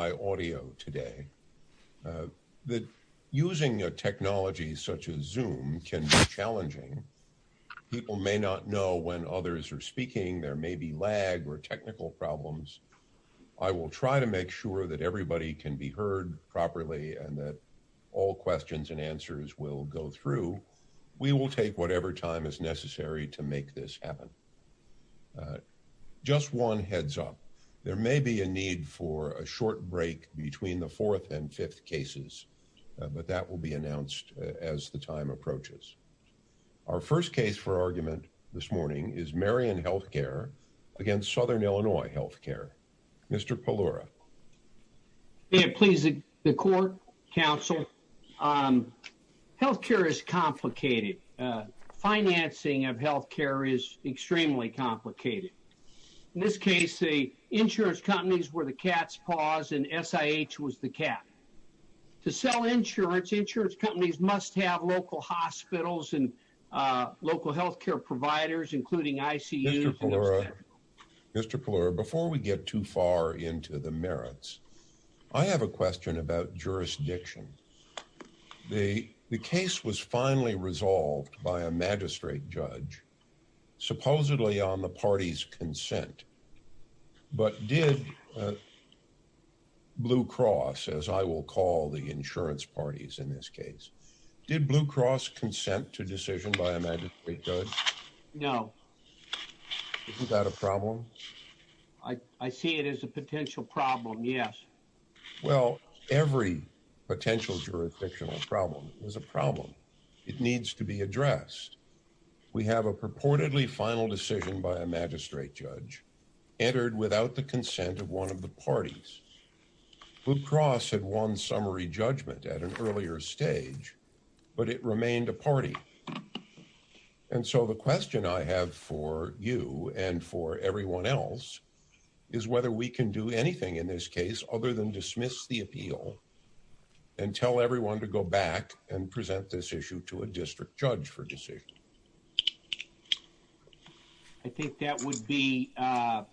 I want to remind all of you by audio today, that using a technology such as Zoom can be challenging. People may not know when others are speaking, there may be lag or technical problems. I will try to make sure that everybody can be heard properly and that all questions and answers will go through. We will take whatever time is necessary to make this happen. Just one heads up, there may be a need for a short break between the fourth and fifth cases. But that will be announced as the time approaches. Our first case for argument this morning is Marion HealthCare against Southern Illinois HealthCare. Mr. Pellora. Please, the court, counsel, health care is complicated. Financing of health care is extremely complicated. In this case, the insurance companies were the cat's paws and SIH was the cat. To sell insurance, insurance companies must have local hospitals and local health care providers, including ICU. Mr. Pellora, before we get too far into the merits, I have a question about jurisdiction. The case was finally resolved by a magistrate judge, supposedly on the party's consent. But did Blue Cross, as I will call the insurance parties in this case, did Blue Cross consent to decision by a magistrate judge? No. Isn't that a problem? I see it as a potential problem, yes. Well, every potential jurisdictional problem is a problem. It needs to be addressed. We have a purportedly final decision by a magistrate judge entered without the consent of one of the parties. Blue Cross had won summary judgment at an earlier stage, but it remained a party. And so, the question I have for you and for everyone else is whether we can do anything in this case other than dismiss the appeal and tell everyone to go back and present this issue to a district judge for decision. I think that would be a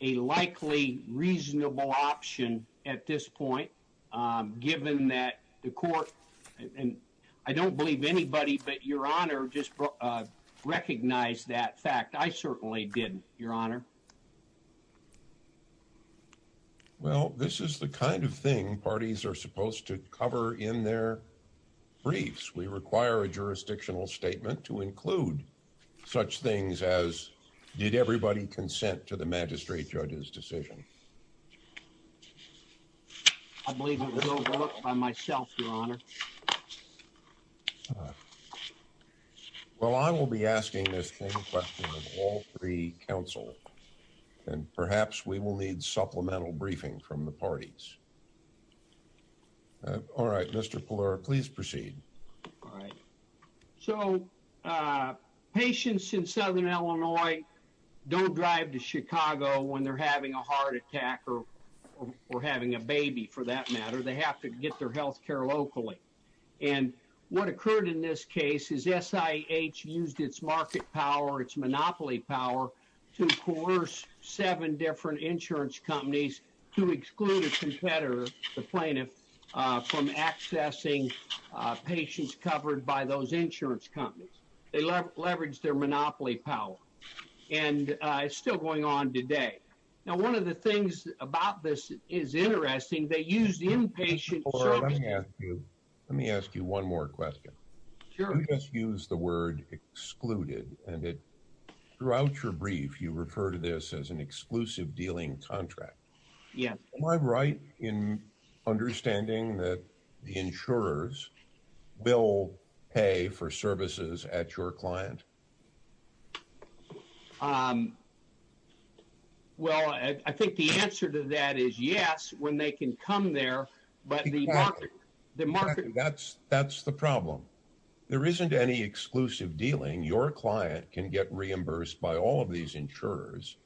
likely reasonable option at this point, given that the court, and I don't believe anybody but Your Honor, just recognized that fact. I certainly didn't, Your Honor. Well, this is the kind of thing parties are supposed to cover in their briefs. We require a jurisdictional statement to include such things as, did everybody consent to the magistrate judge's decision? I believe it was overlooked by myself, Your Honor. Well, I will be asking this same question of all three counsel. And perhaps we will need supplemental briefing from the parties. All right, Mr. Pallura, please proceed. All right. So, patients in Southern Illinois don't drive to Chicago when they're having a heart attack or having a baby, for that matter. They have to get their health care locally. And what occurred in this case is SIH used its market power, its monopoly power, to coerce seven different insurance companies to exclude a competitor, the plaintiff, from accessing patients covered by those insurance companies. They leveraged their monopoly power. And it's still going on today. Now, one of the things about this is interesting. They used inpatient services. Mr. Pallura, let me ask you one more question. Sure. You just used the word excluded. And throughout your brief, you refer to this as an exclusive dealing contract. Yes. Am I right in understanding that the insurers will pay for services at your client? Well, I think the answer to that is yes, when they can come there. But the market... That's the problem. There isn't any exclusive dealing. Your client can get reimbursed by all of these insurers.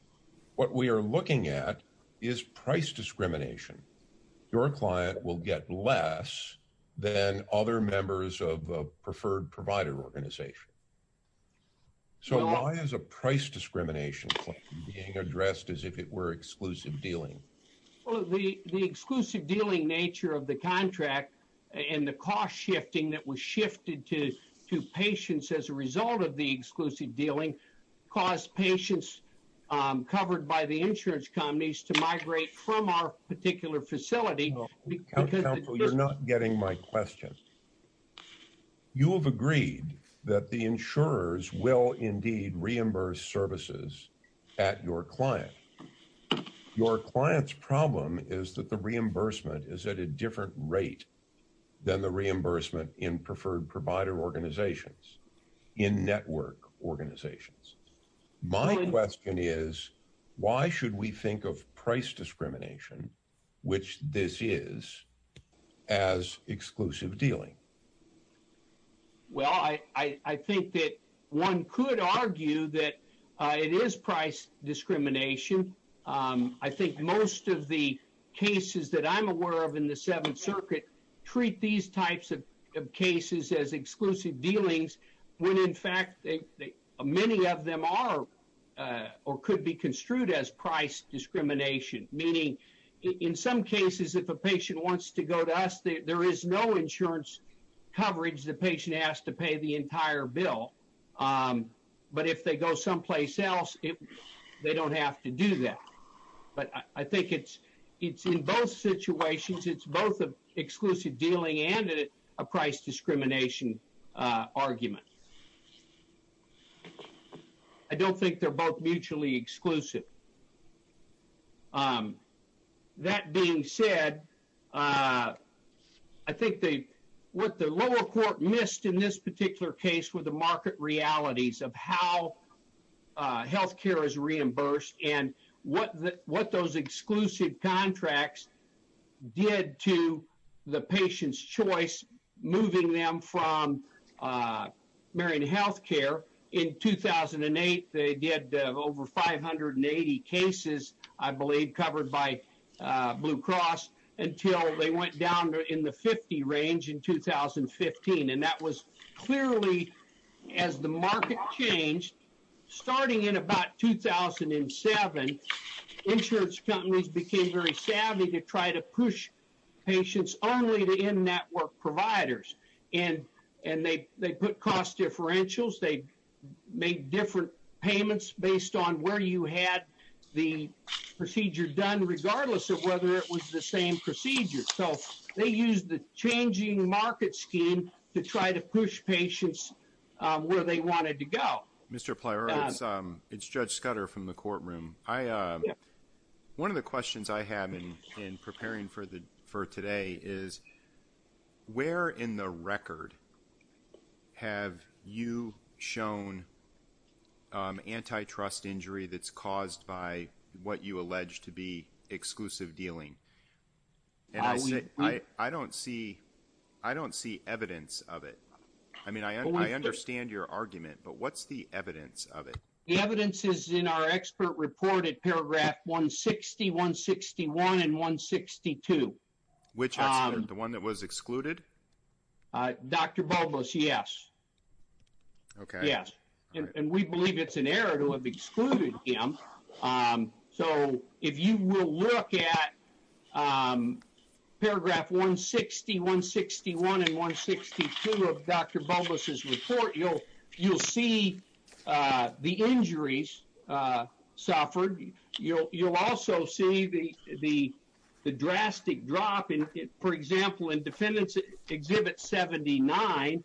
What we are looking at is price discrimination. Your client will get less than other members of a preferred provider organization. So why is a price discrimination being addressed as if it were exclusive dealing? Well, the exclusive dealing nature of the contract and the cost shifting that was shifted to patients as a result of the exclusive dealing caused patients covered by the insurance companies to migrate from our particular facility. Counsel, you're not getting my question. You have agreed that the insurers will indeed reimburse services at your client. Your client's problem is that the reimbursement is at a different rate than the reimbursement in preferred provider organizations, in network organizations. My question is, why should we think of price discrimination, which this is, as exclusive dealing? Well, I think that one could argue that it is price discrimination. I think most of the cases that I'm aware of in the Seventh Circuit treat these types of cases as exclusive dealings, when in fact many of them are or could be construed as price discrimination. Meaning, in some cases, if a patient wants to go to us, there is no insurance coverage the patient has to pay the entire bill. But if they go someplace else, they don't have to do that. But I think it's in both situations, it's both an exclusive dealing and a price discrimination argument. I don't think they're both mutually exclusive. That being said, I think what the lower court missed in this particular case were the market realities of how healthcare is reimbursed and what those exclusive contracts did to the patient's choice moving them from Marion Healthcare. In 2008, they did over 580 cases, I believe, covered by Blue Cross, until they went down in the 50 range in 2015. And that was clearly, as the market changed, starting in about 2007, insurance companies became very savvy to try to push patients only to in-network providers. And they put cost differentials, they made different payments based on where you had the procedure done, regardless of whether it was the same procedure. So they used the changing market scheme to try to push patients where they wanted to go. Mr. Pleros, it's Judge Scudder from the courtroom. One of the questions I have in preparing for today is, where in the record have you shown antitrust injury that's caused by what you allege to be exclusive dealing? I don't see evidence of it. I mean, I understand your argument, but what's the evidence of it? The evidence is in our expert report at paragraph 160, 161, and 162. Which expert? The one that was excluded? Dr. Bulbus, yes. Okay. Yes, and we believe it's an error to have excluded him. So if you will look at paragraph 160, 161, and 162 of Dr. Bulbus' report, you'll see the injuries suffered. You'll also see the drastic drop. For example, in defendant's exhibit 79,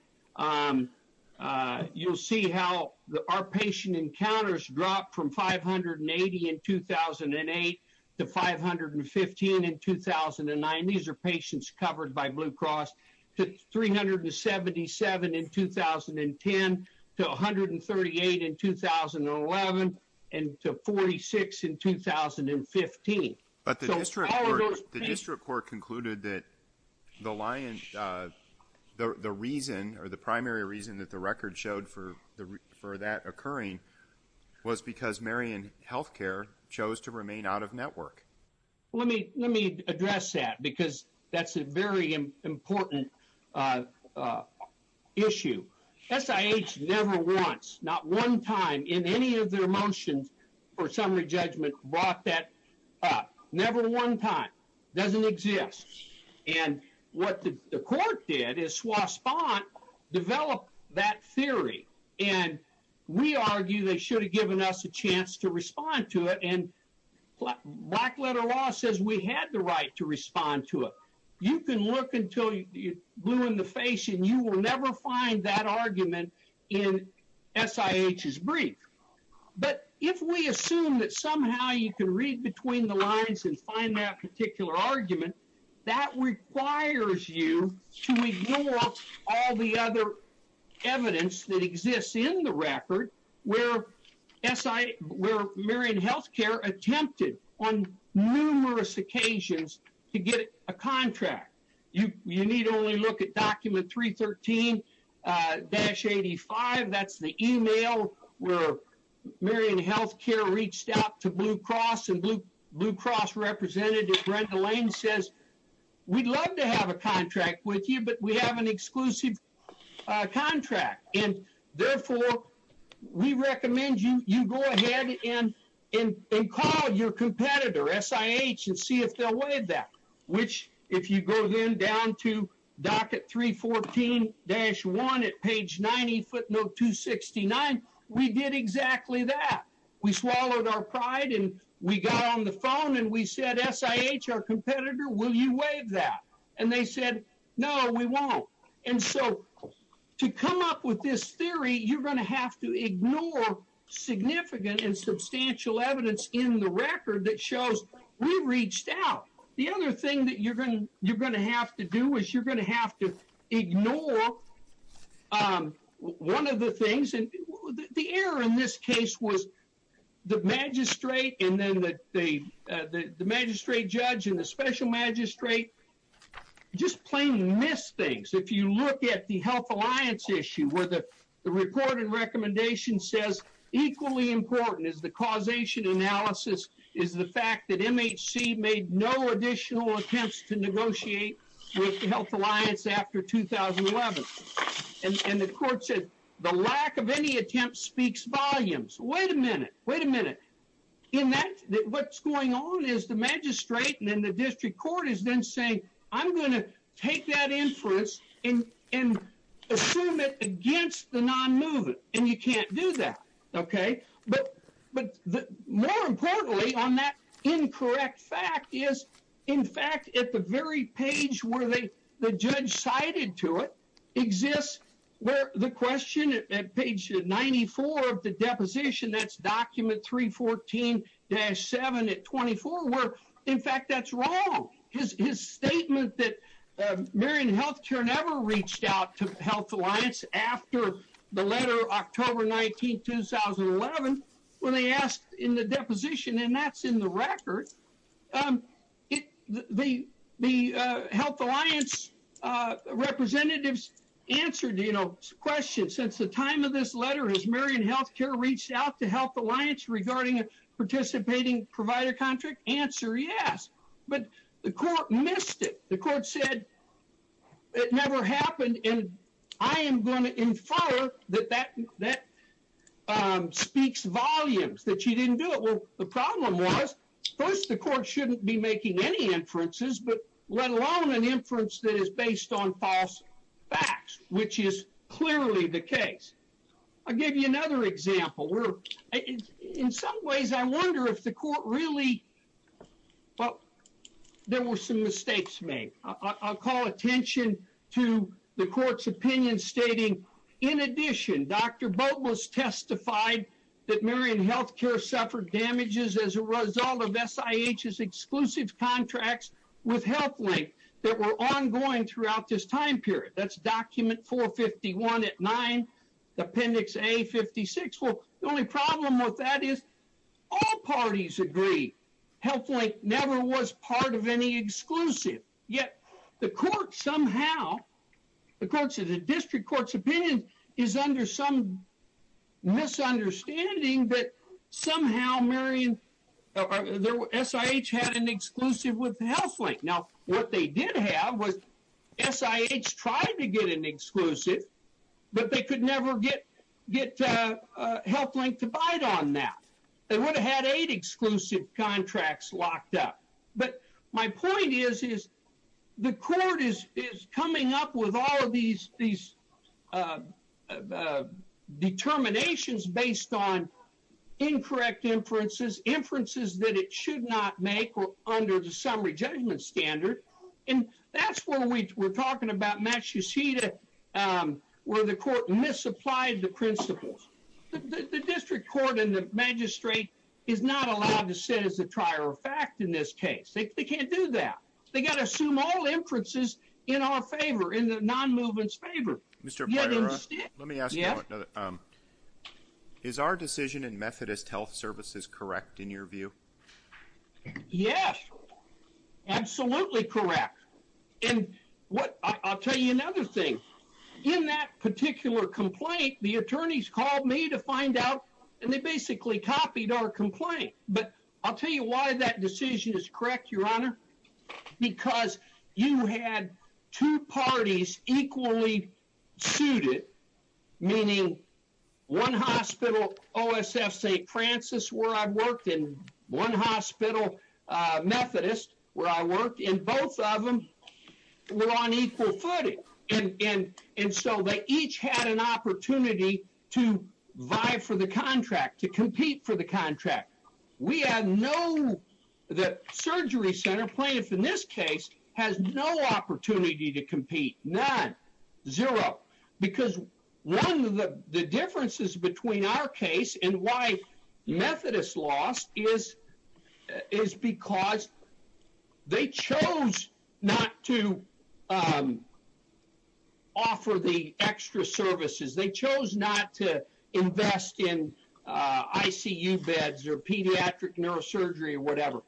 you'll see how our patient encounters dropped from 580 in 2008 to 515 in 2009. These are patients covered by Blue Cross. To 377 in 2010, to 138 in 2011, and to 46 in 2015. But the district court concluded that the reason, or the primary reason that the record showed for that occurring, was because Marion Healthcare chose to remain out of network. Let me address that because that's a very important issue. SIH never once, not one time in any of their motions for summary judgment, brought that up. Never one time. Doesn't exist. And what the court did is swasp on, develop that theory. And we argue they should have given us a chance to respond to it. And black letter law says we had the right to respond to it. You can look until you're blue in the face, and you will never find that argument in SIH's brief. But if we assume that somehow you can read between the lines and find that particular argument, that requires you to ignore all the other evidence that exists in the record where Marion Healthcare attempted on numerous occasions to get a contract. You need only look at document 313-85. That's the email where Marion Healthcare reached out to Blue Cross, and Blue Cross representative Brenda Lane says, we'd love to have a contract with you, but we have an exclusive contract. And therefore, we recommend you go ahead and call your competitor, SIH, and see if they'll waive that. Which, if you go then down to docket 314-1 at page 90 footnote 269, we did exactly that. We swallowed our pride, and we got on the phone, and we said, SIH, our competitor, will you waive that? And they said, no, we won't. And so to come up with this theory, you're going to have to ignore significant and substantial evidence in the record that shows we reached out. The other thing that you're going to have to do is you're going to have to ignore one of the things. And the error in this case was the magistrate and then the magistrate judge and the special magistrate just plain missed things. If you look at the health alliance issue where the report and recommendation says equally important is the causation analysis is the fact that MHC made no additional attempts to negotiate with the health alliance after 2011. And the court said, the lack of any attempt speaks volumes. Wait a minute. Wait a minute. What's going on is the magistrate and then the district court is then saying, I'm going to take that inference and assume it against the non-moving, and you can't do that. But more importantly on that incorrect fact is, in fact, at the very page where the judge cited to it exists, where the question at page 94 of the deposition, that's document 314-7 at 24, where, in fact, that's wrong. His statement that Marion Healthcare never reached out to the health alliance after the letter October 19, 2011, when they asked in the deposition, and that's in the record, the health alliance representatives answered, you know, questions. Since the time of this letter has Marion Healthcare reached out to health alliance regarding a participating provider contract? Answer, yes. But the court missed it. The court said it never happened, and I am going to infer that that speaks volumes, that you didn't do it. Well, the problem was, first, the court shouldn't be making any inferences, but let alone an inference that is based on false facts, which is clearly the case. I'll give you another example. In some ways, I wonder if the court really, well, there were some mistakes made. I'll call attention to the court's opinion stating, in addition, Dr. Boatles testified that Marion Healthcare suffered damages as a result of SIH's exclusive contracts with HealthLink that were ongoing throughout this time period. That's document 451 at 9, appendix A56. Well, the only problem with that is all parties agree. HealthLink never was part of any exclusive, yet the court somehow, the court said the district court's opinion is under some misunderstanding that somehow SIH had an exclusive with HealthLink. Now, what they did have was SIH tried to get an exclusive, but they could never get HealthLink to bite on that. They would have had eight exclusive contracts locked up. But my point is, is the court is coming up with all of these determinations based on incorrect inferences, inferences that it should not make or under the summary judgment standard. And that's where we're talking about Massachusetts, where the court misapplied the principles. The district court and the magistrate is not allowed to sit as a trier of fact in this case. They can't do that. They got to assume all inferences in our favor, in the non-movement's favor. Mr. Poira, let me ask you one other. Is our decision in Methodist Health Services correct in your view? Yes, absolutely correct. And what, I'll tell you another thing. In that particular complaint, the attorneys called me to find out, and they basically copied our complaint. But I'll tell you why that decision is correct, Your Honor. Because you had two parties equally suited, meaning one hospital, OSF St. Francis, where I worked, and one hospital, Methodist, where I worked. And both of them were on equal footing. And so they each had an opportunity to vie for the contract, to compete for the contract. We had no, the surgery center plaintiff in this case, has no opportunity to compete. None. Zero. Because one of the differences between our case and why Methodist lost is because they chose not to offer the extra services. They chose not to invest in ICU beds or pediatric neurosurgery or whatever.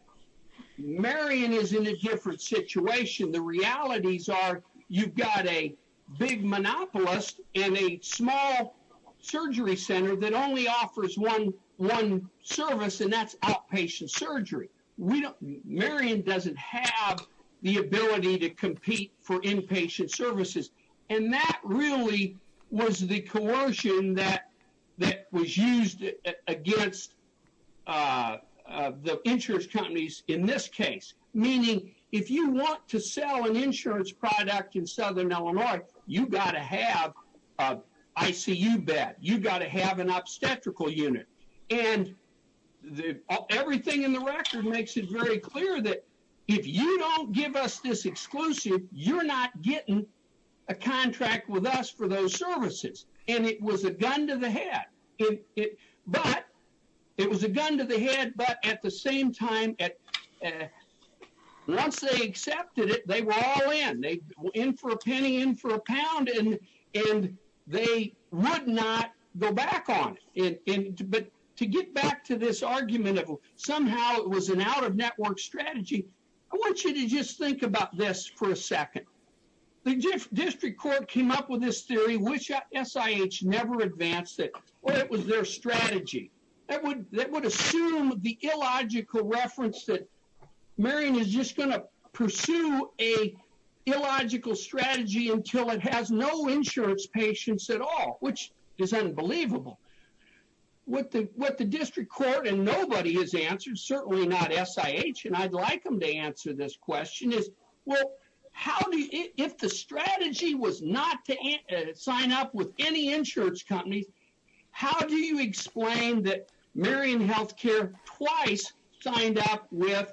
Marion is in a different situation. The realities are you've got a big monopolist in a small surgery center that only offers one service, and that's outpatient surgery. We don't, Marion doesn't have the ability to compete for inpatient services. And that really was the coercion that was used against the insurance companies in this case. Meaning if you want to sell an insurance product in Southern Illinois, you've got to have an ICU bed. You've got to have an obstetrical unit. And everything in the record makes it very clear that if you don't give us this exclusive, you're not getting a contract with us for those services. And it was a gun to the head. But it was a gun to the head. But at the same time, once they accepted it, they were all in. They were in for a penny, in for a pound. And they would not go back on it. But to get back to this argument of somehow it was an out-of-network strategy, I want you to just think about this for a second. The district court came up with this theory, which SIH never advanced it. Or it was their strategy. That would assume the illogical reference that Marion is just going to pursue a illogical strategy until it has no insurance patients at all, which is unbelievable. What the district court and nobody has answered, certainly not SIH, and I'd like them to answer this question is, well, if the strategy was not to sign up with any insurance companies, how do you explain that Marion HealthCare twice signed up with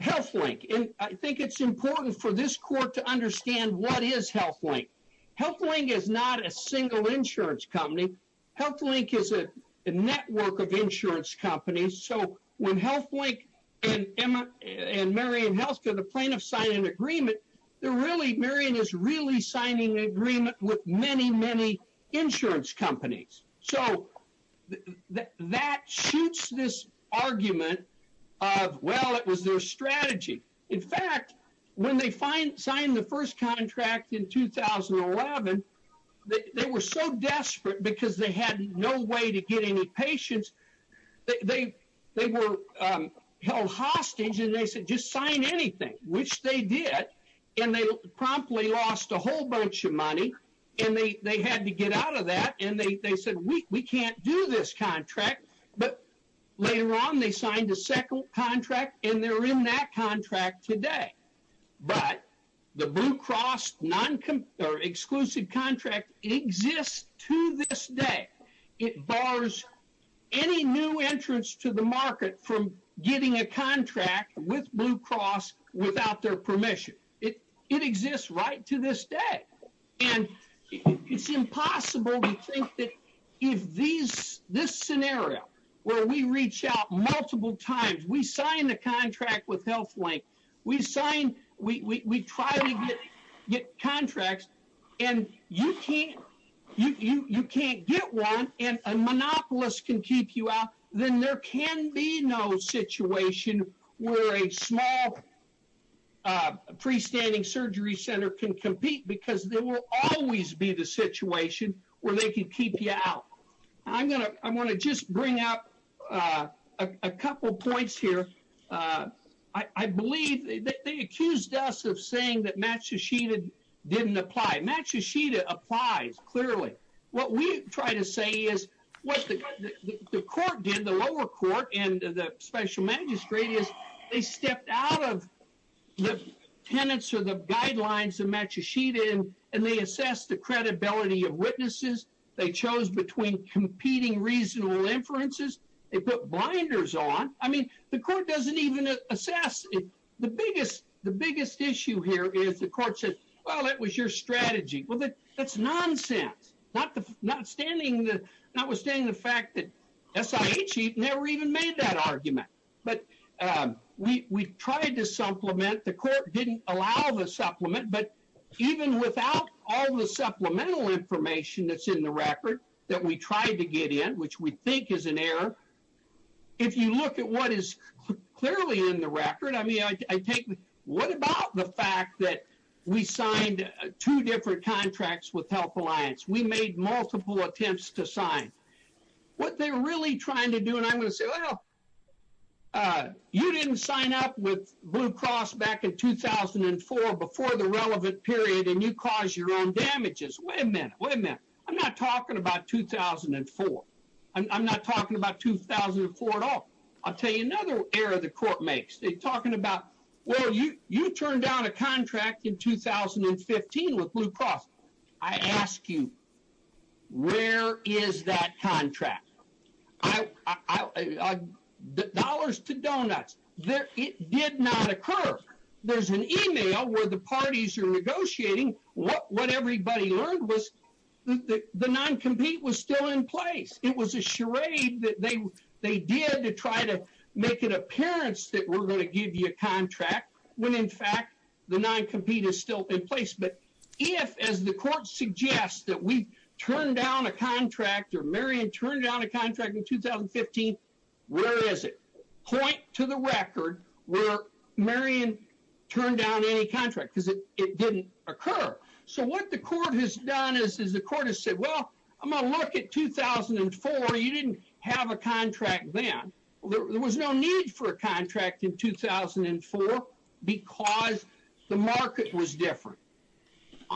HealthLink? And I think it's important for this court to understand what is HealthLink. HealthLink is not a single insurance company. HealthLink is a network of insurance companies. So when HealthLink and Marion HealthCare, the plaintiffs, sign an agreement, they're really, Marion is really signing an agreement with many, many insurance companies. So that shoots this argument of, well, it was their strategy. In fact, when they signed the first contract in 2011, they were so desperate because they had no way to get any patients. They were held hostage, and they said, just sign anything, which they did. And they promptly lost a whole bunch of money, and they had to get out of that. And they said, we can't do this contract. But later on, they signed a second contract, and they're in that contract today. But the Blue Cross exclusive contract exists to this day. It bars any new entrance to the market from getting a contract with Blue Cross without their permission. It exists right to this day. And it's impossible to think that if this scenario, where we reach out multiple times, we sign a contract with HealthLink, we sign, we try to get contracts, and you can't get one, and a monopolist can keep you out, then there can be no situation where a small pre-standing surgery center can compete, because there will always be the situation where they can keep you out. I want to just bring up a couple points here. I believe they accused us of saying that Matsushita didn't apply. Matsushita applies, clearly. What we try to say is what the court did, the lower court, and the special magistrate, is they stepped out of the tenets or the guidelines of Matsushita, and they assessed the credibility of witnesses. They chose between competing reasonable inferences. They put blinders on. I mean, the court doesn't even assess. The biggest issue here is the court said, well, that was your strategy. Well, that's nonsense, notwithstanding the fact that SIHE never even made that argument. But we tried to supplement. The court didn't allow the supplement, but even without all the supplemental information that's in the record that we tried to get in, which we think is an error, if you look at what is clearly in the record, I mean, what about the fact that we signed two different contracts with Health Alliance? We made multiple attempts to sign. What they're really trying to do, and I'm going to say, well, you didn't sign up with Blue Cross back in 2004 before the relevant period, and you caused your own damages. Wait a minute. Wait a minute. I'm not talking about 2004. I'm not talking about 2004 at all. I'll tell you another error the court makes. They're talking about, well, you turned down a contract in 2015 with Blue Cross. I ask you, where is that contract? Dollars to donuts. It did not occur. There's an email where the parties are negotiating. What everybody learned was the non-compete was still in place. It was a charade that they did to try to make it appearance that we're going to give you a contract when, in fact, the non-compete is still in place. But if, as the court suggests, that we turned down a contract or Marion turned down a contract in 2015, where is it? Point to the record where Marion turned down any contract because it didn't occur. So what the court has done is the court has said, well, I'm going to look at 2004. You didn't have a contract then. There was no need for a contract in 2004 because the market was different.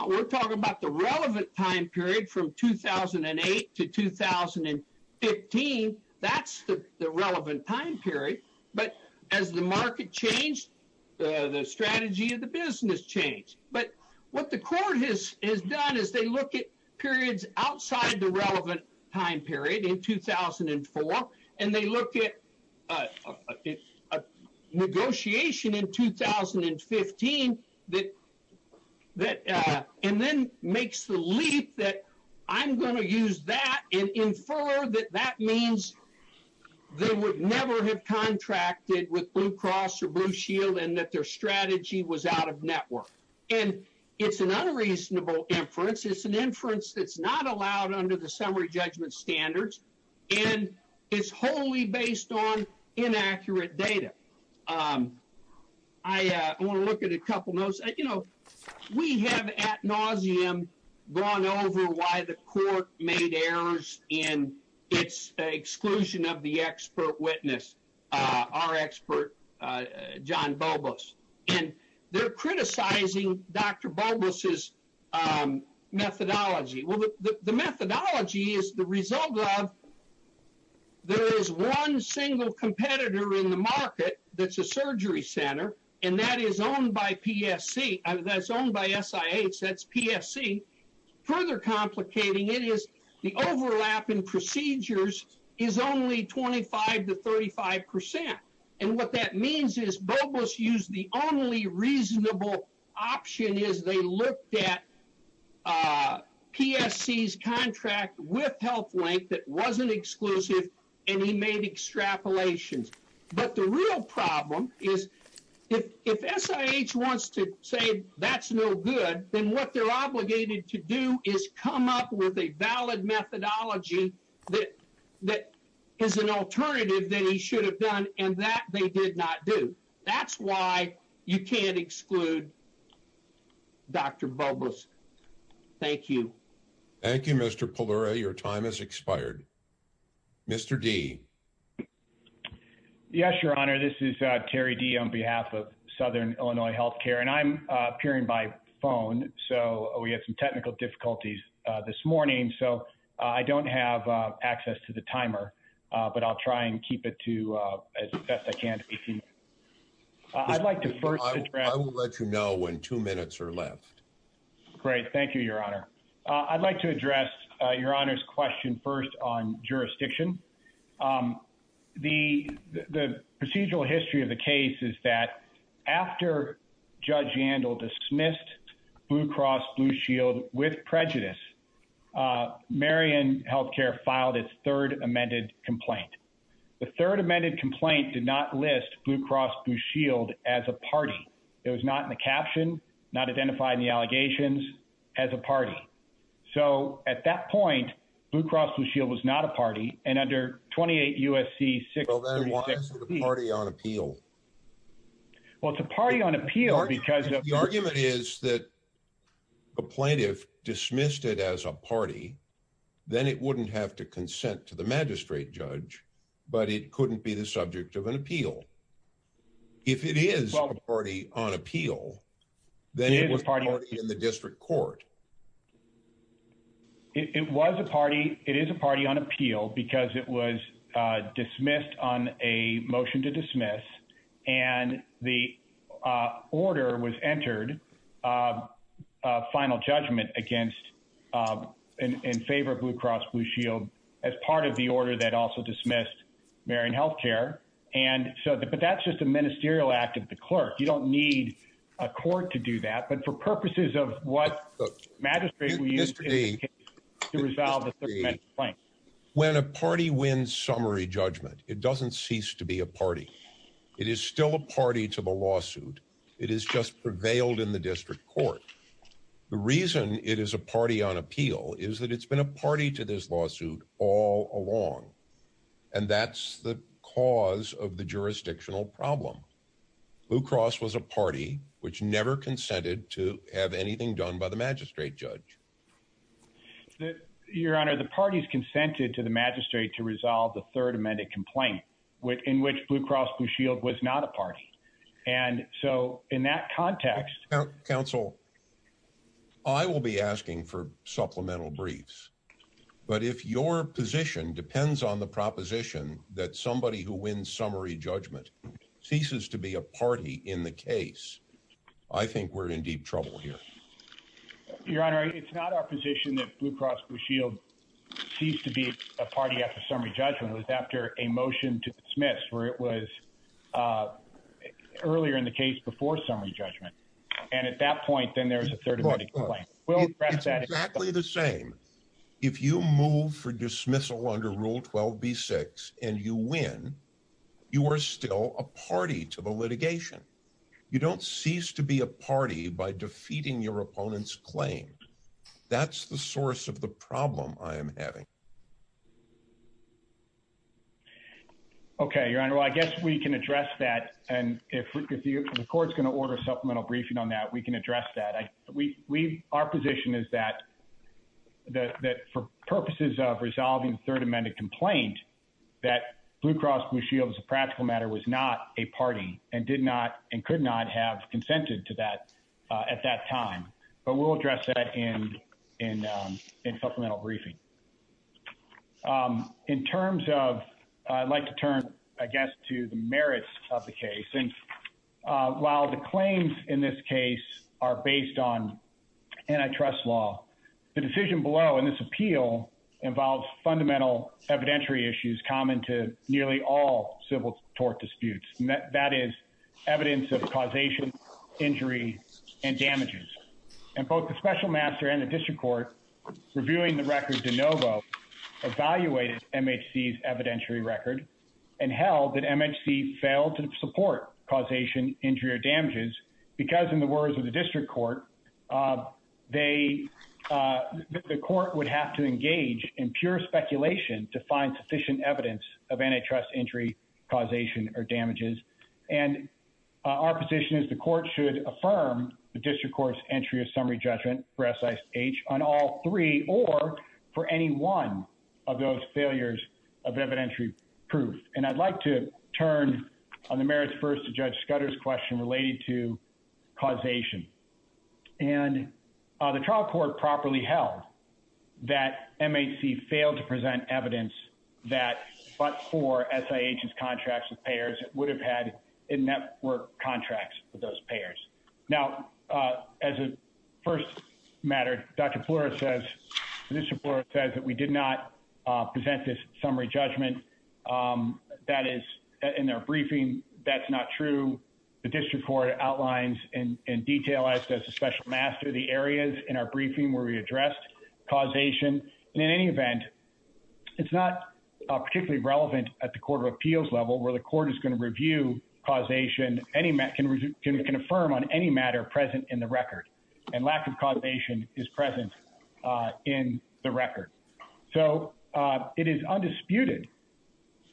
We're talking about the relevant time period from 2008 to 2015. That's the relevant time period. But as the market changed, the strategy of the business changed. But what the court has done is they look at periods outside the relevant time period in 2004, and they look at a negotiation in 2015, and then makes the leap that I'm going to use that and infer that that means they would never have contracted with Blue Cross or Blue Shield and that their strategy was out of network. And it's an unreasonable inference. It's an inference that's not allowed under the summary judgment standards, and it's wholly based on inaccurate data. I want to look at a couple notes. We have ad nauseum gone over why the court made errors in its exclusion of the expert witness, our expert, John Bobos. And they're criticizing Dr. Bobos's methodology. Well, the methodology is the result of there is one single competitor in the market that's a surgery center, and that is owned by PSC. That's owned by SIH. That's PSC. Further complicating it is the overlap in procedures is only 25% to 35%. And what that means is Bobos used the only reasonable option is they looked at PSC's contract with HealthLink that wasn't exclusive, and he made extrapolations. But the real problem is if SIH wants to say that's no good, then what they're obligated to do is come up with a valid methodology that is an alternative that he should have done, and that they did not do. That's why you can't exclude Dr. Bobos. Thank you. Thank you, Mr. Pallure. Your time has expired. Mr. D. Yes, Your Honor. This is Terry D. on behalf of Southern Illinois Healthcare, and I'm appearing by phone, so we had some technical difficulties this morning. So I don't have access to the timer, but I'll try and keep it to as best I can to be seen. I'd like to first address. I will let you know when two minutes are left. Great. Thank you, Your Honor. I'd like to address Your Honor's question first on jurisdiction. The procedural history of the case is that after Judge Yandel dismissed Blue Cross Blue Shield with prejudice, Marion Healthcare filed its third amended complaint. The third amended complaint did not list Blue Cross Blue Shield as a party. It was not in the caption, not identified in the allegations as a party. So at that point, Blue Cross Blue Shield was not a party, and under 28 U.S.C. 636. Well, then why is it a party on appeal? Well, it's a party on appeal because of. The argument is that a plaintiff dismissed it as a party, then it wouldn't have to consent to the magistrate judge, but it couldn't be the subject of an appeal. If it is a party on appeal, then it was party in the district court. It was a party. It is a party on appeal because it was dismissed on a motion to dismiss. And the order was entered. Final judgment against in favor of Blue Cross Blue Shield as part of the order that also dismissed Marion Healthcare. And so, but that's just a ministerial act of the clerk. You don't need a court to do that, but for purposes of what magistrate we used to resolve the complaint. When a party wins summary judgment, it doesn't cease to be a party. It is still a party to the lawsuit. It is just prevailed in the district court. The reason it is a party on appeal is that it's been a party to this lawsuit all along. And that's the cause of the jurisdictional problem. Blue Cross was a party which never consented to have anything done by the magistrate judge. Your Honor, the parties consented to the magistrate to resolve the third amended complaint within which Blue Cross Blue Shield was not a party. And so in that context, counsel, I will be asking for supplemental briefs, but if your position depends on the proposition that somebody who wins summary judgment ceases to be a party in the case, I think we're in deep trouble here. Your Honor, it's not our position that Blue Cross Blue Shield seems to be a party after summary judgment was after a motion to dismiss where it was earlier in the case before summary judgment. And at that point, then there was a third amendment complaint. We'll address that. Exactly the same. If you move for dismissal under rule 12, B six and you win, you are still a party to the litigation. You don't cease to be a party by defeating your opponent's claim. That's the source of the problem I am having. Okay, your Honor, I guess we can address that. And if the court's going to order supplemental briefing on that, we can address that. Our position is that for purposes of resolving third amended complaint, that Blue Cross Blue Shield as a practical matter was not a party and did not and could not have consented to that at that time. But we'll address that in supplemental briefing. In terms of, I'd like to turn, I guess, to the merits of the case. And I'm going to start with the merits of this case. First. I think while the claims in this case are based on, and I trust law, the decision below in this appeal involved fundamental evidentiary issues, common to nearly all civil tort disputes. And that is evidence of causation, injury and damage. And both the special master and the district court. Reviewing the record DeNovo evaluated MHC evidentiary record. And held that MHC failed to support causation injury or damages because in the words of the district court, they, the court would have to engage in pure speculation to find sufficient evidence of antitrust injury causation or damages. And our position is the court should affirm the district court's entry of summary judgment for SIH on all three or for any one of those failures of evidentiary proof. And I'd like to turn on the merits first to judge Scudder's question related to causation and the trial court properly held that MHC failed to present evidence that, but for SIH's contracts with payers would have had a network contracts with those payers. Now, as a first matter, Dr. Flora says, Mr. Flora says that we did not present this summary judgment. That is in their briefing. That's not true. The district court outlines in detail as a special master, the areas in our briefing where we addressed causation. And in any event, it's not particularly relevant at the court of appeals level where the court is going to review causation. And we can affirm on any matter present in the record and lack of causation is present in the record. So it is undisputed.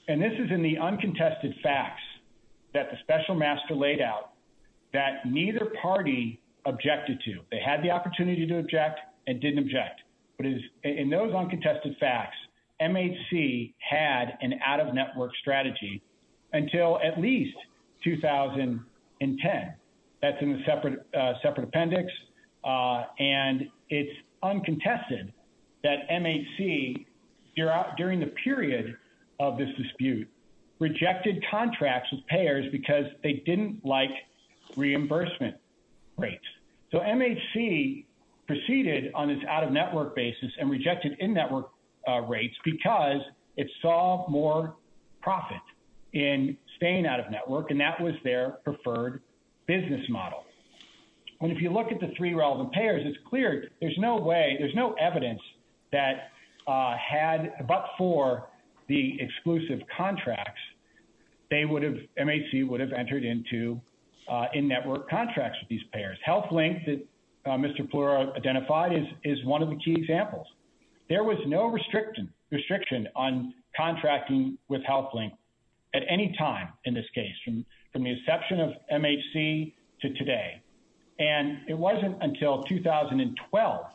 And this is in the uncontested facts that the special master laid out that neither party objected to. They had the opportunity to object and didn't object. But in those uncontested facts, MHC had an out of network strategy until at least 2010. That's in the separate, separate appendix. And it's uncontested that MHC. You're out during the period of this dispute rejected contracts with payers because they didn't like reimbursement rates. So MHC proceeded on this out of network basis and rejected in network rates because it saw more profit in staying out of network. And that was their preferred business model. When, if you look at the three relevant payers, it's clear. There's no way there's no evidence that had, but for the exclusive contracts, they would have, MHC would have entered into in network contracts with these payers health link that Mr. Fleur identified is, is one of the key examples. There was no restriction restriction on contracting with health link. At any time in this case, from, from the inception of MHC to today. And it wasn't until 2012.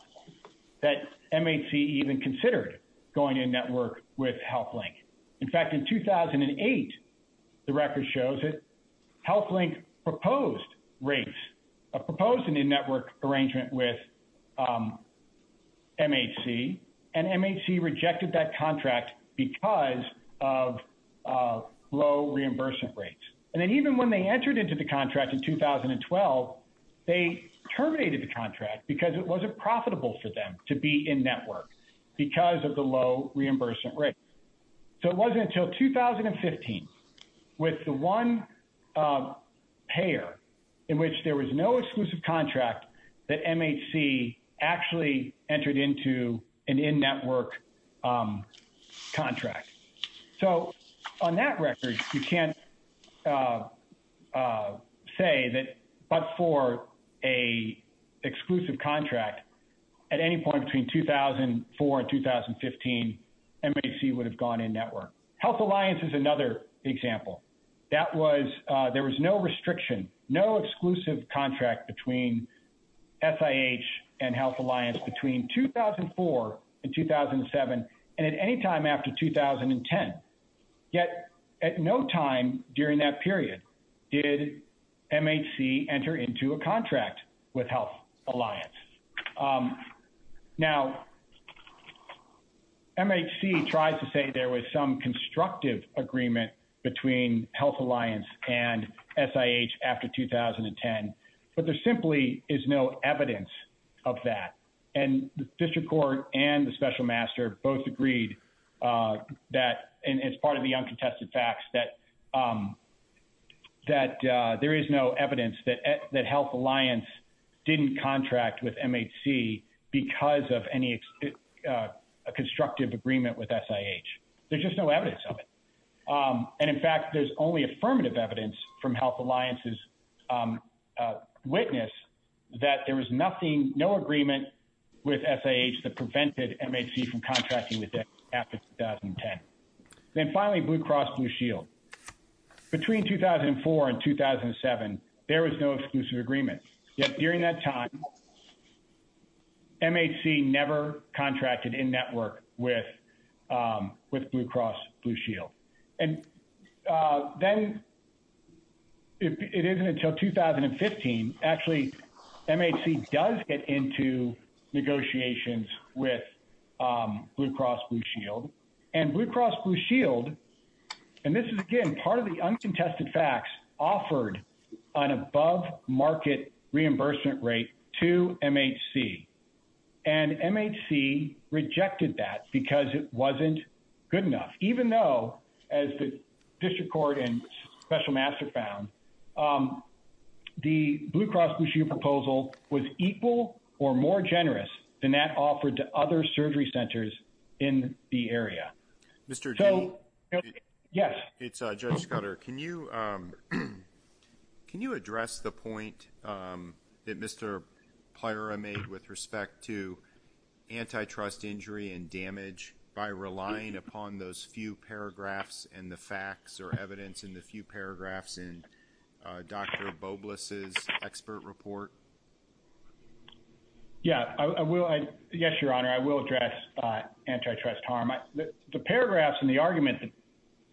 That MHC even considered going in network with health link. In fact, in 2008, the record shows it. Health link proposed rates of proposing in network arrangement with. MHC and MHC rejected that contract because of low reimbursement rates. And then even when they entered into the contract in 2012, they terminated the contract because it wasn't profitable for them to be in network because of the low reimbursement rate. So it wasn't until 2015. With the one pair in which there was no exclusive contract that MHC actually entered into an in network contract. So on that record, you can't say that, but for a exclusive contract at any point between 2004 and 2015, MHC would have gone in network health alliance is another example. That was, there was no restriction, no exclusive contract between SIH and health alliance between 2004 and 2007. And at any time after 2010, yet at no time during that period, did MHC enter into a contract with health alliance. Now MHC tries to say there was some constructive agreement between health alliance and SIH after 2010, but there simply is no evidence of that. And the district court and the special master both agreed that, and it's part of the uncontested facts that, that there is no evidence that, that health alliance didn't contract with MHC because of any constructive agreement with SIH. There's just no evidence of it. And in fact, there's only affirmative evidence from health alliances witness that there was nothing, no agreement with SIH that prevented MHC from contracting with them after 2010. Then finally blue cross blue shield between 2004 and 2007, there was no exclusive agreement yet during that time, MHC never contracted in network with, with blue cross blue shield. And then it isn't until 2015, actually MHC does get into negotiations with blue cross blue shield and blue cross blue shield. And this is again, part of the uncontested facts offered on above market reimbursement rate to MHC and MHC rejected that because it wasn't good enough, even though as the district court and special master found the blue cross blue shield proposal was equal or more generous than that offered to other surgery centers in the area. Mr. Yes, it's a judge Scudder. Can you, can you address the point that Mr. Player made with respect to antitrust injury and damage by relying upon those few paragraphs and the facts or evidence in the few paragraphs and Dr. Bobliss is expert report. Yeah, I will. I guess your honor, I will address antitrust harm. I, the paragraphs and the argument that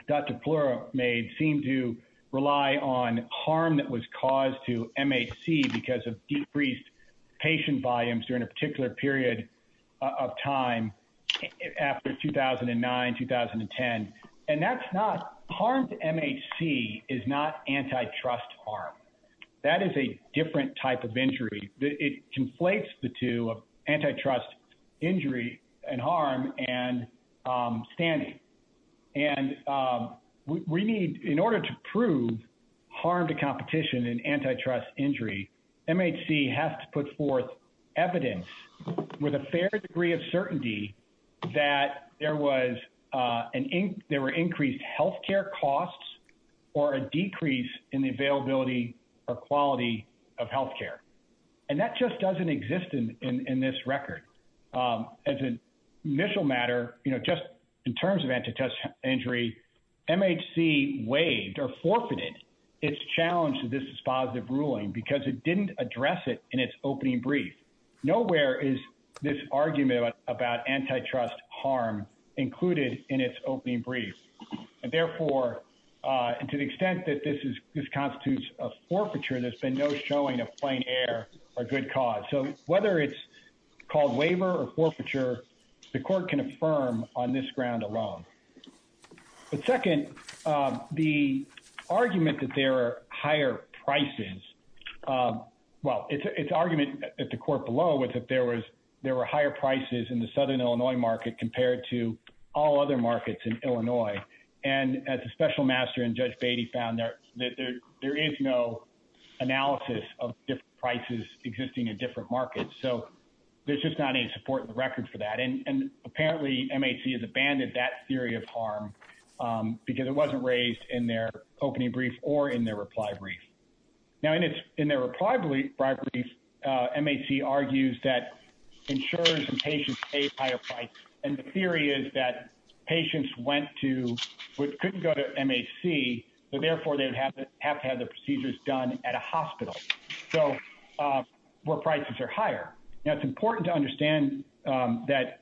Dr. Fleur made seemed to rely on harm that was caused to MHC because of decreased patient volumes during a particular period of time after 2009, 2010. And that's not harmed MHC is not antitrust harm. That is a different type of injury. It conflates the two of antitrust injury and harm. And, um, standing and, um, we need in order to prove harm to competition and antitrust injury, MHC has to put forth evidence with a fair degree of certainty that there was, uh, an ink, there were increased healthcare costs or a decrease in the availability or quality of healthcare. And that just doesn't exist in, in this record. Um, as an initial matter, you know, just in terms of antitrust injury, MHC waived or forfeited. It's challenged that this is positive ruling because it didn't address it in its opening brief. Nowhere is this argument about antitrust harm included in its opening brief. And therefore, uh, and to the extent that this is, this constitutes a forfeiture, there's been no showing of plain air or good cause. So whether it's called waiver or forfeiture, the court can affirm on this ground alone, but second, um, the argument that there are higher prices, um, well, it's, it's argument at the court below with, if there was, there were higher prices in the Southern Illinois market compared to all other markets in Illinois. And as a special master and judge Beatty found that there, there is no analysis of different prices existing in different markets. So there's just not any support in the record for that. And, and apparently MHC has abandoned that theory of harm, um, because it wasn't raised in their opening brief or in their reply brief. Now in its, in their reply brief, uh, MHC argues that insurers and patients pay higher price. And the theory is that patients went to, which couldn't go to MHC, but therefore they'd have to have to have the procedures done at a hospital. So, uh, where prices are higher. Now it's important to understand, um, that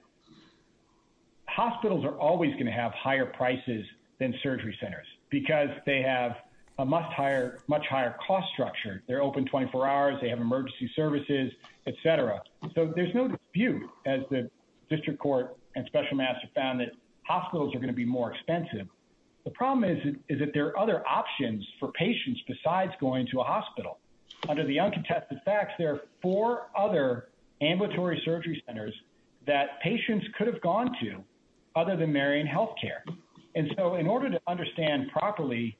hospitals are always going to have higher prices than surgery centers because they have a much higher, much higher cost structure. They're open 24 hours. They have emergency services, et cetera. So there's no dispute as the district court and special master found that hospitals are going to be more expensive. The problem is, is that there are other options for patients besides going to a hospital. Under the uncontested facts, there are four other ambulatory surgery centers that patients could have gone to other than marrying healthcare. And so in order to understand properly,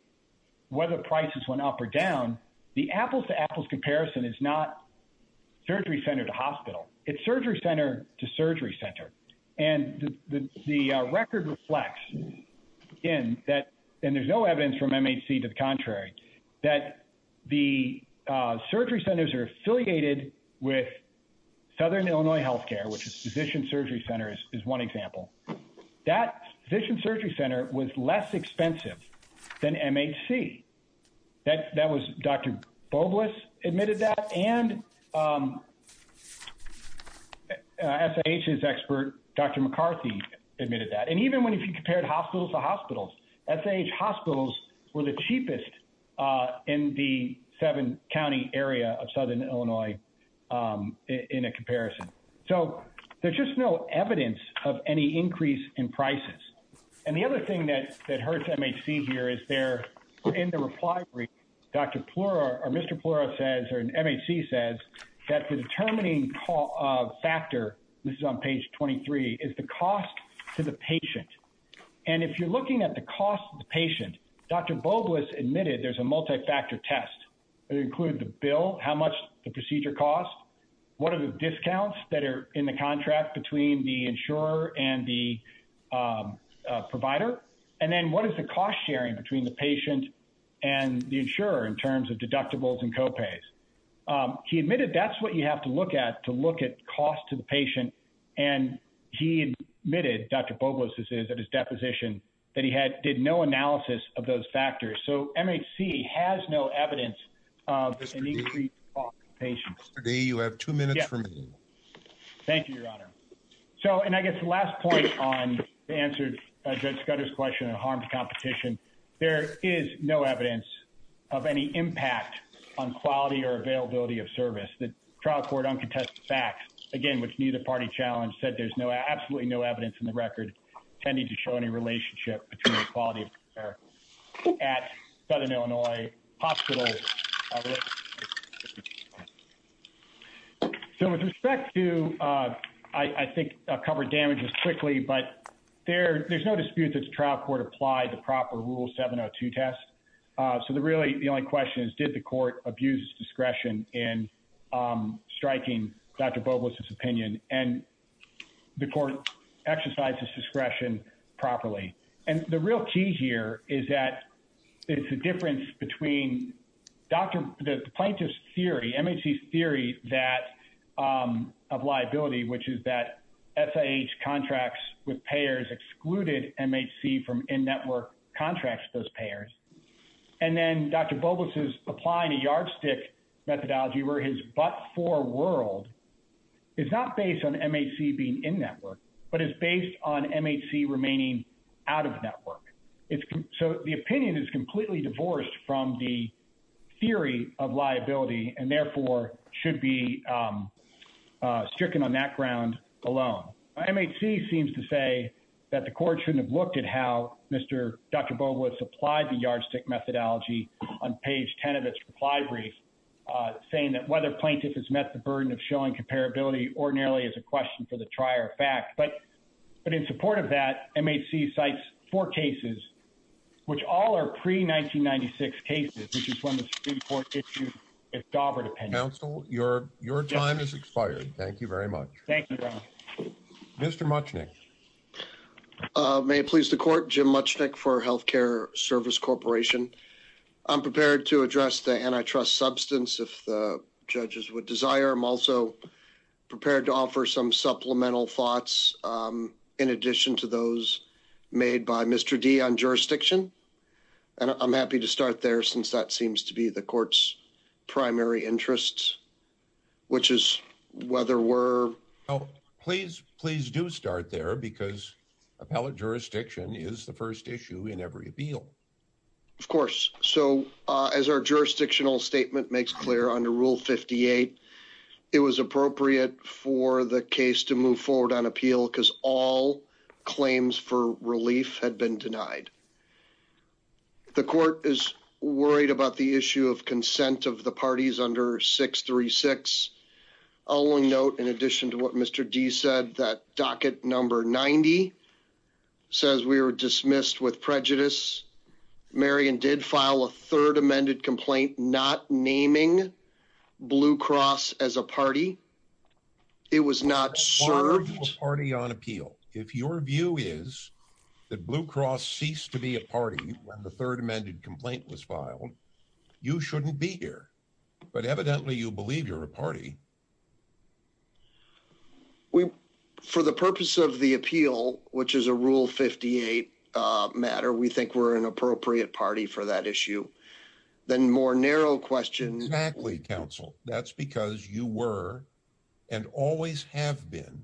whether prices went up or down, the apples to apples comparison is not surgery center to hospital. It's surgery center to surgery center. And the, the record reflects in that. And there's no evidence from MHC to the contrary, that the, uh, surgery centers are affiliated with Southern Illinois healthcare, which is physician surgery centers is one example that vision surgery center was less expensive than MHC. That, that was Dr. Bobliss admitted that. And, um, uh, SHS expert, Dr. McCarthy admitted that. And even when he compared hospitals to hospitals, that's age hospitals were the cheapest, uh, in the seven County area of Southern Illinois, um, in a comparison. So there's just no evidence of any increase in prices. And the other thing that, that hurts MHC here is there in the reply, Dr. Plura or Mr. Plura says, or an MHC says that for determining call, uh, factor, this is on page 23 is the cost to the patient. And if you're looking at the cost of the patient, Dr. Bobliss admitted, there's a multi-factor test. It included the bill, how much the procedure costs. What are the discounts that are in the contract between the insurer and the, um, uh, provider. And then what is the cost sharing between the patient and the insurer in terms of deductibles and copays? Um, he admitted that's what you have to look at to look at cost to the patient. And he admitted Dr. Bobliss is at his deposition that he had did no analysis of those factors. So MHC has no evidence. Uh, patients. You have two minutes for me. Thank you, your honor. So, and I guess the last point on the answer, I just got his question and harmed competition. There is no evidence. Of any impact on quality or availability of service that trial court uncontested facts again, which needs a party challenge said there's no, absolutely no evidence in the record. Tending to show any relationship between the quality of care. At southern Illinois hospital. So with respect to, uh, I think I'll cover damages quickly, but there there's no dispute. That's trial court applied the proper rule seven or two tests. Uh, so the really, the only question is, did the court abuse discretion in, um, striking Dr. Bobliss his opinion and. The court exercises discretion properly. And the real key here is that it's a difference between. Dr. The plaintiff's theory, MHC theory, that, um, of liability, which is that. SIH contracts with payers excluded MHC from in network contracts, those payers. And then Dr. Bobliss is applying a yardstick methodology where his, but for world. It's not based on MHC being in network, but it's based on MHC remaining out of network. It's so the opinion is completely divorced from the. Theory of liability and therefore should be, um, Discussed in the background alone. I may see, seems to say that the court shouldn't have looked at how Mr. Dr. Bobliss applied the yardstick methodology on page 10 of its reply. Uh, saying that whether plaintiff has met the burden of showing comparability or nearly as a question for the trier fact, but. But in support of that, it may see sites for cases. Which all are pre 1996 cases, which is when the Supreme court. If you. It's Dover to pencil your, your time is expired. Thank you very much. Thank you. Mr. Much. Uh, may it please the court Jim much neck for healthcare service corporation. I'm prepared to address the antitrust substance. If the judges would desire. I'm also. Prepared to offer some supplemental thoughts. Um, Uh, in addition to those made by Mr. D on jurisdiction. And I'm happy to start there since that seems to be the courts. Primary interests. Which is whether we're. Oh, please, please do start there because. Appellate jurisdiction is the first issue in every appeal. Of course. So, uh, as our jurisdictional statement makes clear under rule 58. It was appropriate for the case to move forward on appeal. Cause all claims for relief had been denied. The court is worried about the issue of consent of the parties under six, three, six. I'll only note. In addition to what Mr. D said that docket number 90. Says we were dismissed with prejudice. Marion did file a third amended complaint, Not naming. Blue cross as a party. It was not served party on appeal. If your view is. That blue cross ceased to be a party. When the third amended complaint was filed. You shouldn't be here. But evidently you believe you're a party. For the purpose of the appeal, which is a rule 58. I don't think that's an appropriate, uh, matter. We think we're an appropriate party for that issue. Then more narrow questions. Counsel. That's because you were. And always have been.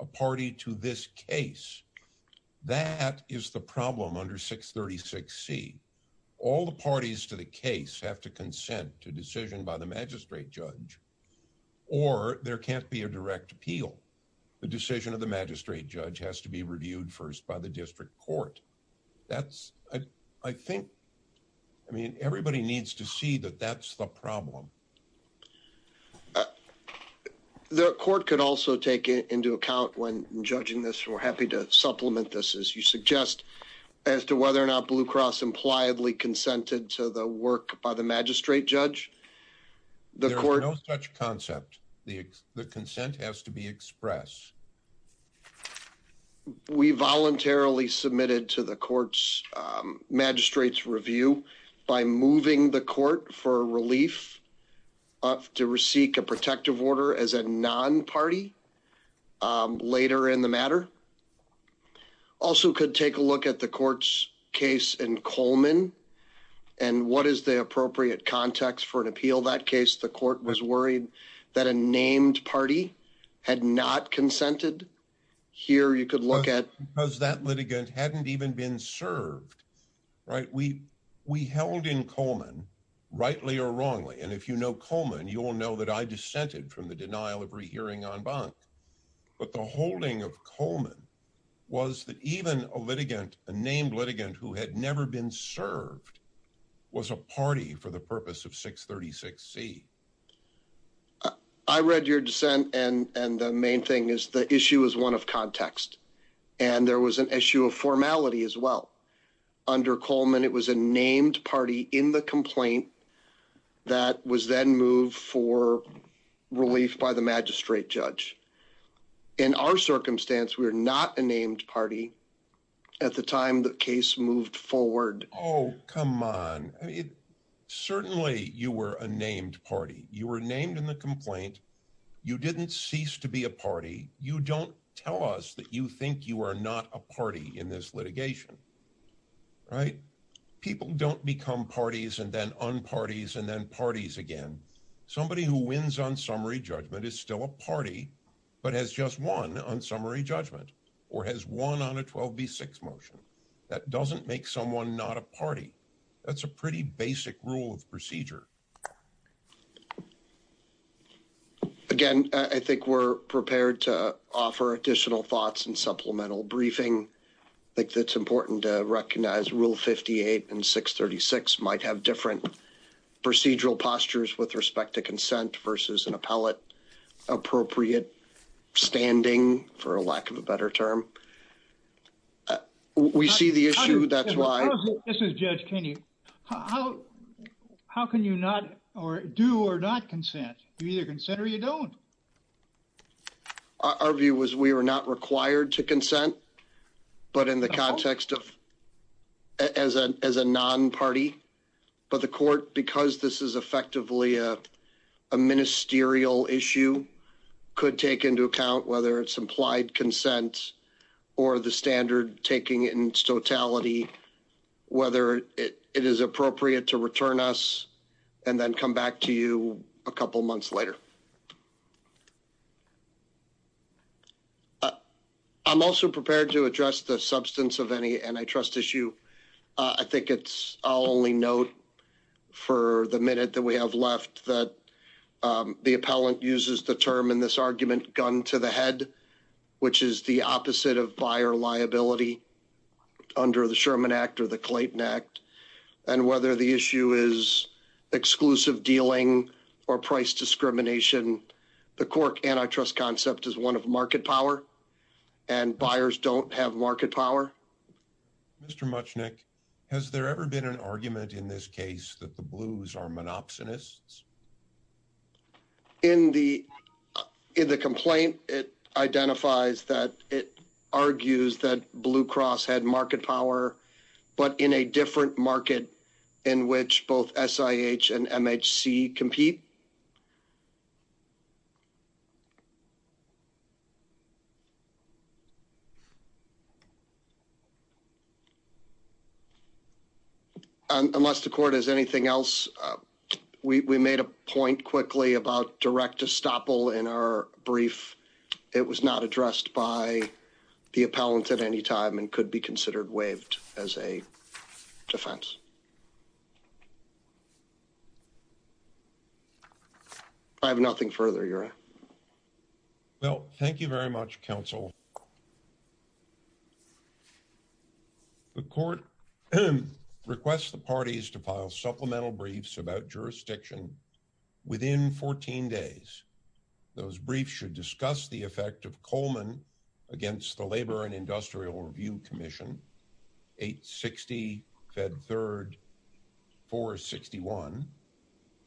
A party to this case. That is the problem under six 36 C. All the parties to the case have to consent to decision by the magistrate judge. Or there can't be a direct appeal. The decision of the magistrate judge has to be reviewed first by the district court. That's. I think. I mean, everybody needs to see that that's the problem. The court could also take into account when judging this, we're happy to supplement this as you suggest. As to whether or not blue cross impliedly consented to the work by the magistrate judge. The court. Such concept. The consent has to be expressed. We voluntarily submitted to the courts. Um, magistrates review. By moving the court for relief. To receive a protective order as a non-party. Um, later in the matter. Also could take a look at the courts case and Coleman. And what is the appropriate context for an appeal? That case, the court was worried that a named party. Had not consented. Here you could look at. Because that litigant hadn't even been served. Right. We, we held in Coleman. Rightly or wrongly. And if you know Coleman, you will know that I dissented from the denial of rehearing on bunk. But the holding of Coleman. Was that even a litigant, a named litigant who had never been served. Was a party for the purpose of six 36 C. I read your dissent and, and the main thing is the issue is one of context. And there was an issue of formality as well. Under Coleman, it was a named party in the complaint. That was then moved for. Relief by the magistrate judge. In our circumstance, we are not a named party. At the time that case moved forward. Oh, come on. Certainly you were a named party. You were named in the complaint. You didn't cease to be a party. You don't tell us that you think you are not a party in this litigation. Right. People don't become parties and then on parties and then parties again. I think we're prepared to offer additional thoughts and supplemental briefing. I think that's important to recognize rule 58 and six 36 might have different. Procedural postures with respect to consent versus an appellate. Appropriate. Standing for a lack of a better term. We see the issue. That's why this is judge. Can you. How can you not or do or not consent? You either consider you don't. Our view was we were not required to consent. But in the context of. As a, as a non party. I don't think we should have a non party. But the court, because this is effectively a. A ministerial issue. Could take into account, whether it's implied consent. Or the standard taking in totality. Whether it is appropriate to return us. And then come back to you a couple months later. Thank you. I'm also prepared to address the substance of any antitrust issue. I think it's all only note. For the minute that we have left that. The appellant uses the term in this argument gun to the head. Which is the opposite of buyer liability. Whether it's a non party. Under the Sherman act or the Clayton act. And whether the issue is. Exclusive dealing or price discrimination. The cork antitrust concept is one of market power. And buyers don't have market power. Mr. Much Nick. Has there ever been an argument in this case that the blues are monopsonists. In the. In the complaint, it identifies that. It argues that blue cross had market power. But in a different market. In which both SIH and MHC compete. Unless the court has anything else. I have nothing further. You're. Well, thank you very much council. The court. Okay. Request the parties to file supplemental briefs about jurisdiction. Within 14 days. Those briefs should discuss the effect of Coleman. Against the labor and industrial review commission. Eight 60 fed third. Four 61.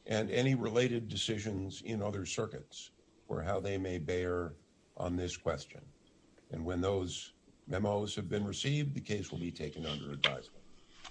And any related decisions in other circuits. Or how they may bear on this question. And when those memos have been received, the case will be taken under advisement.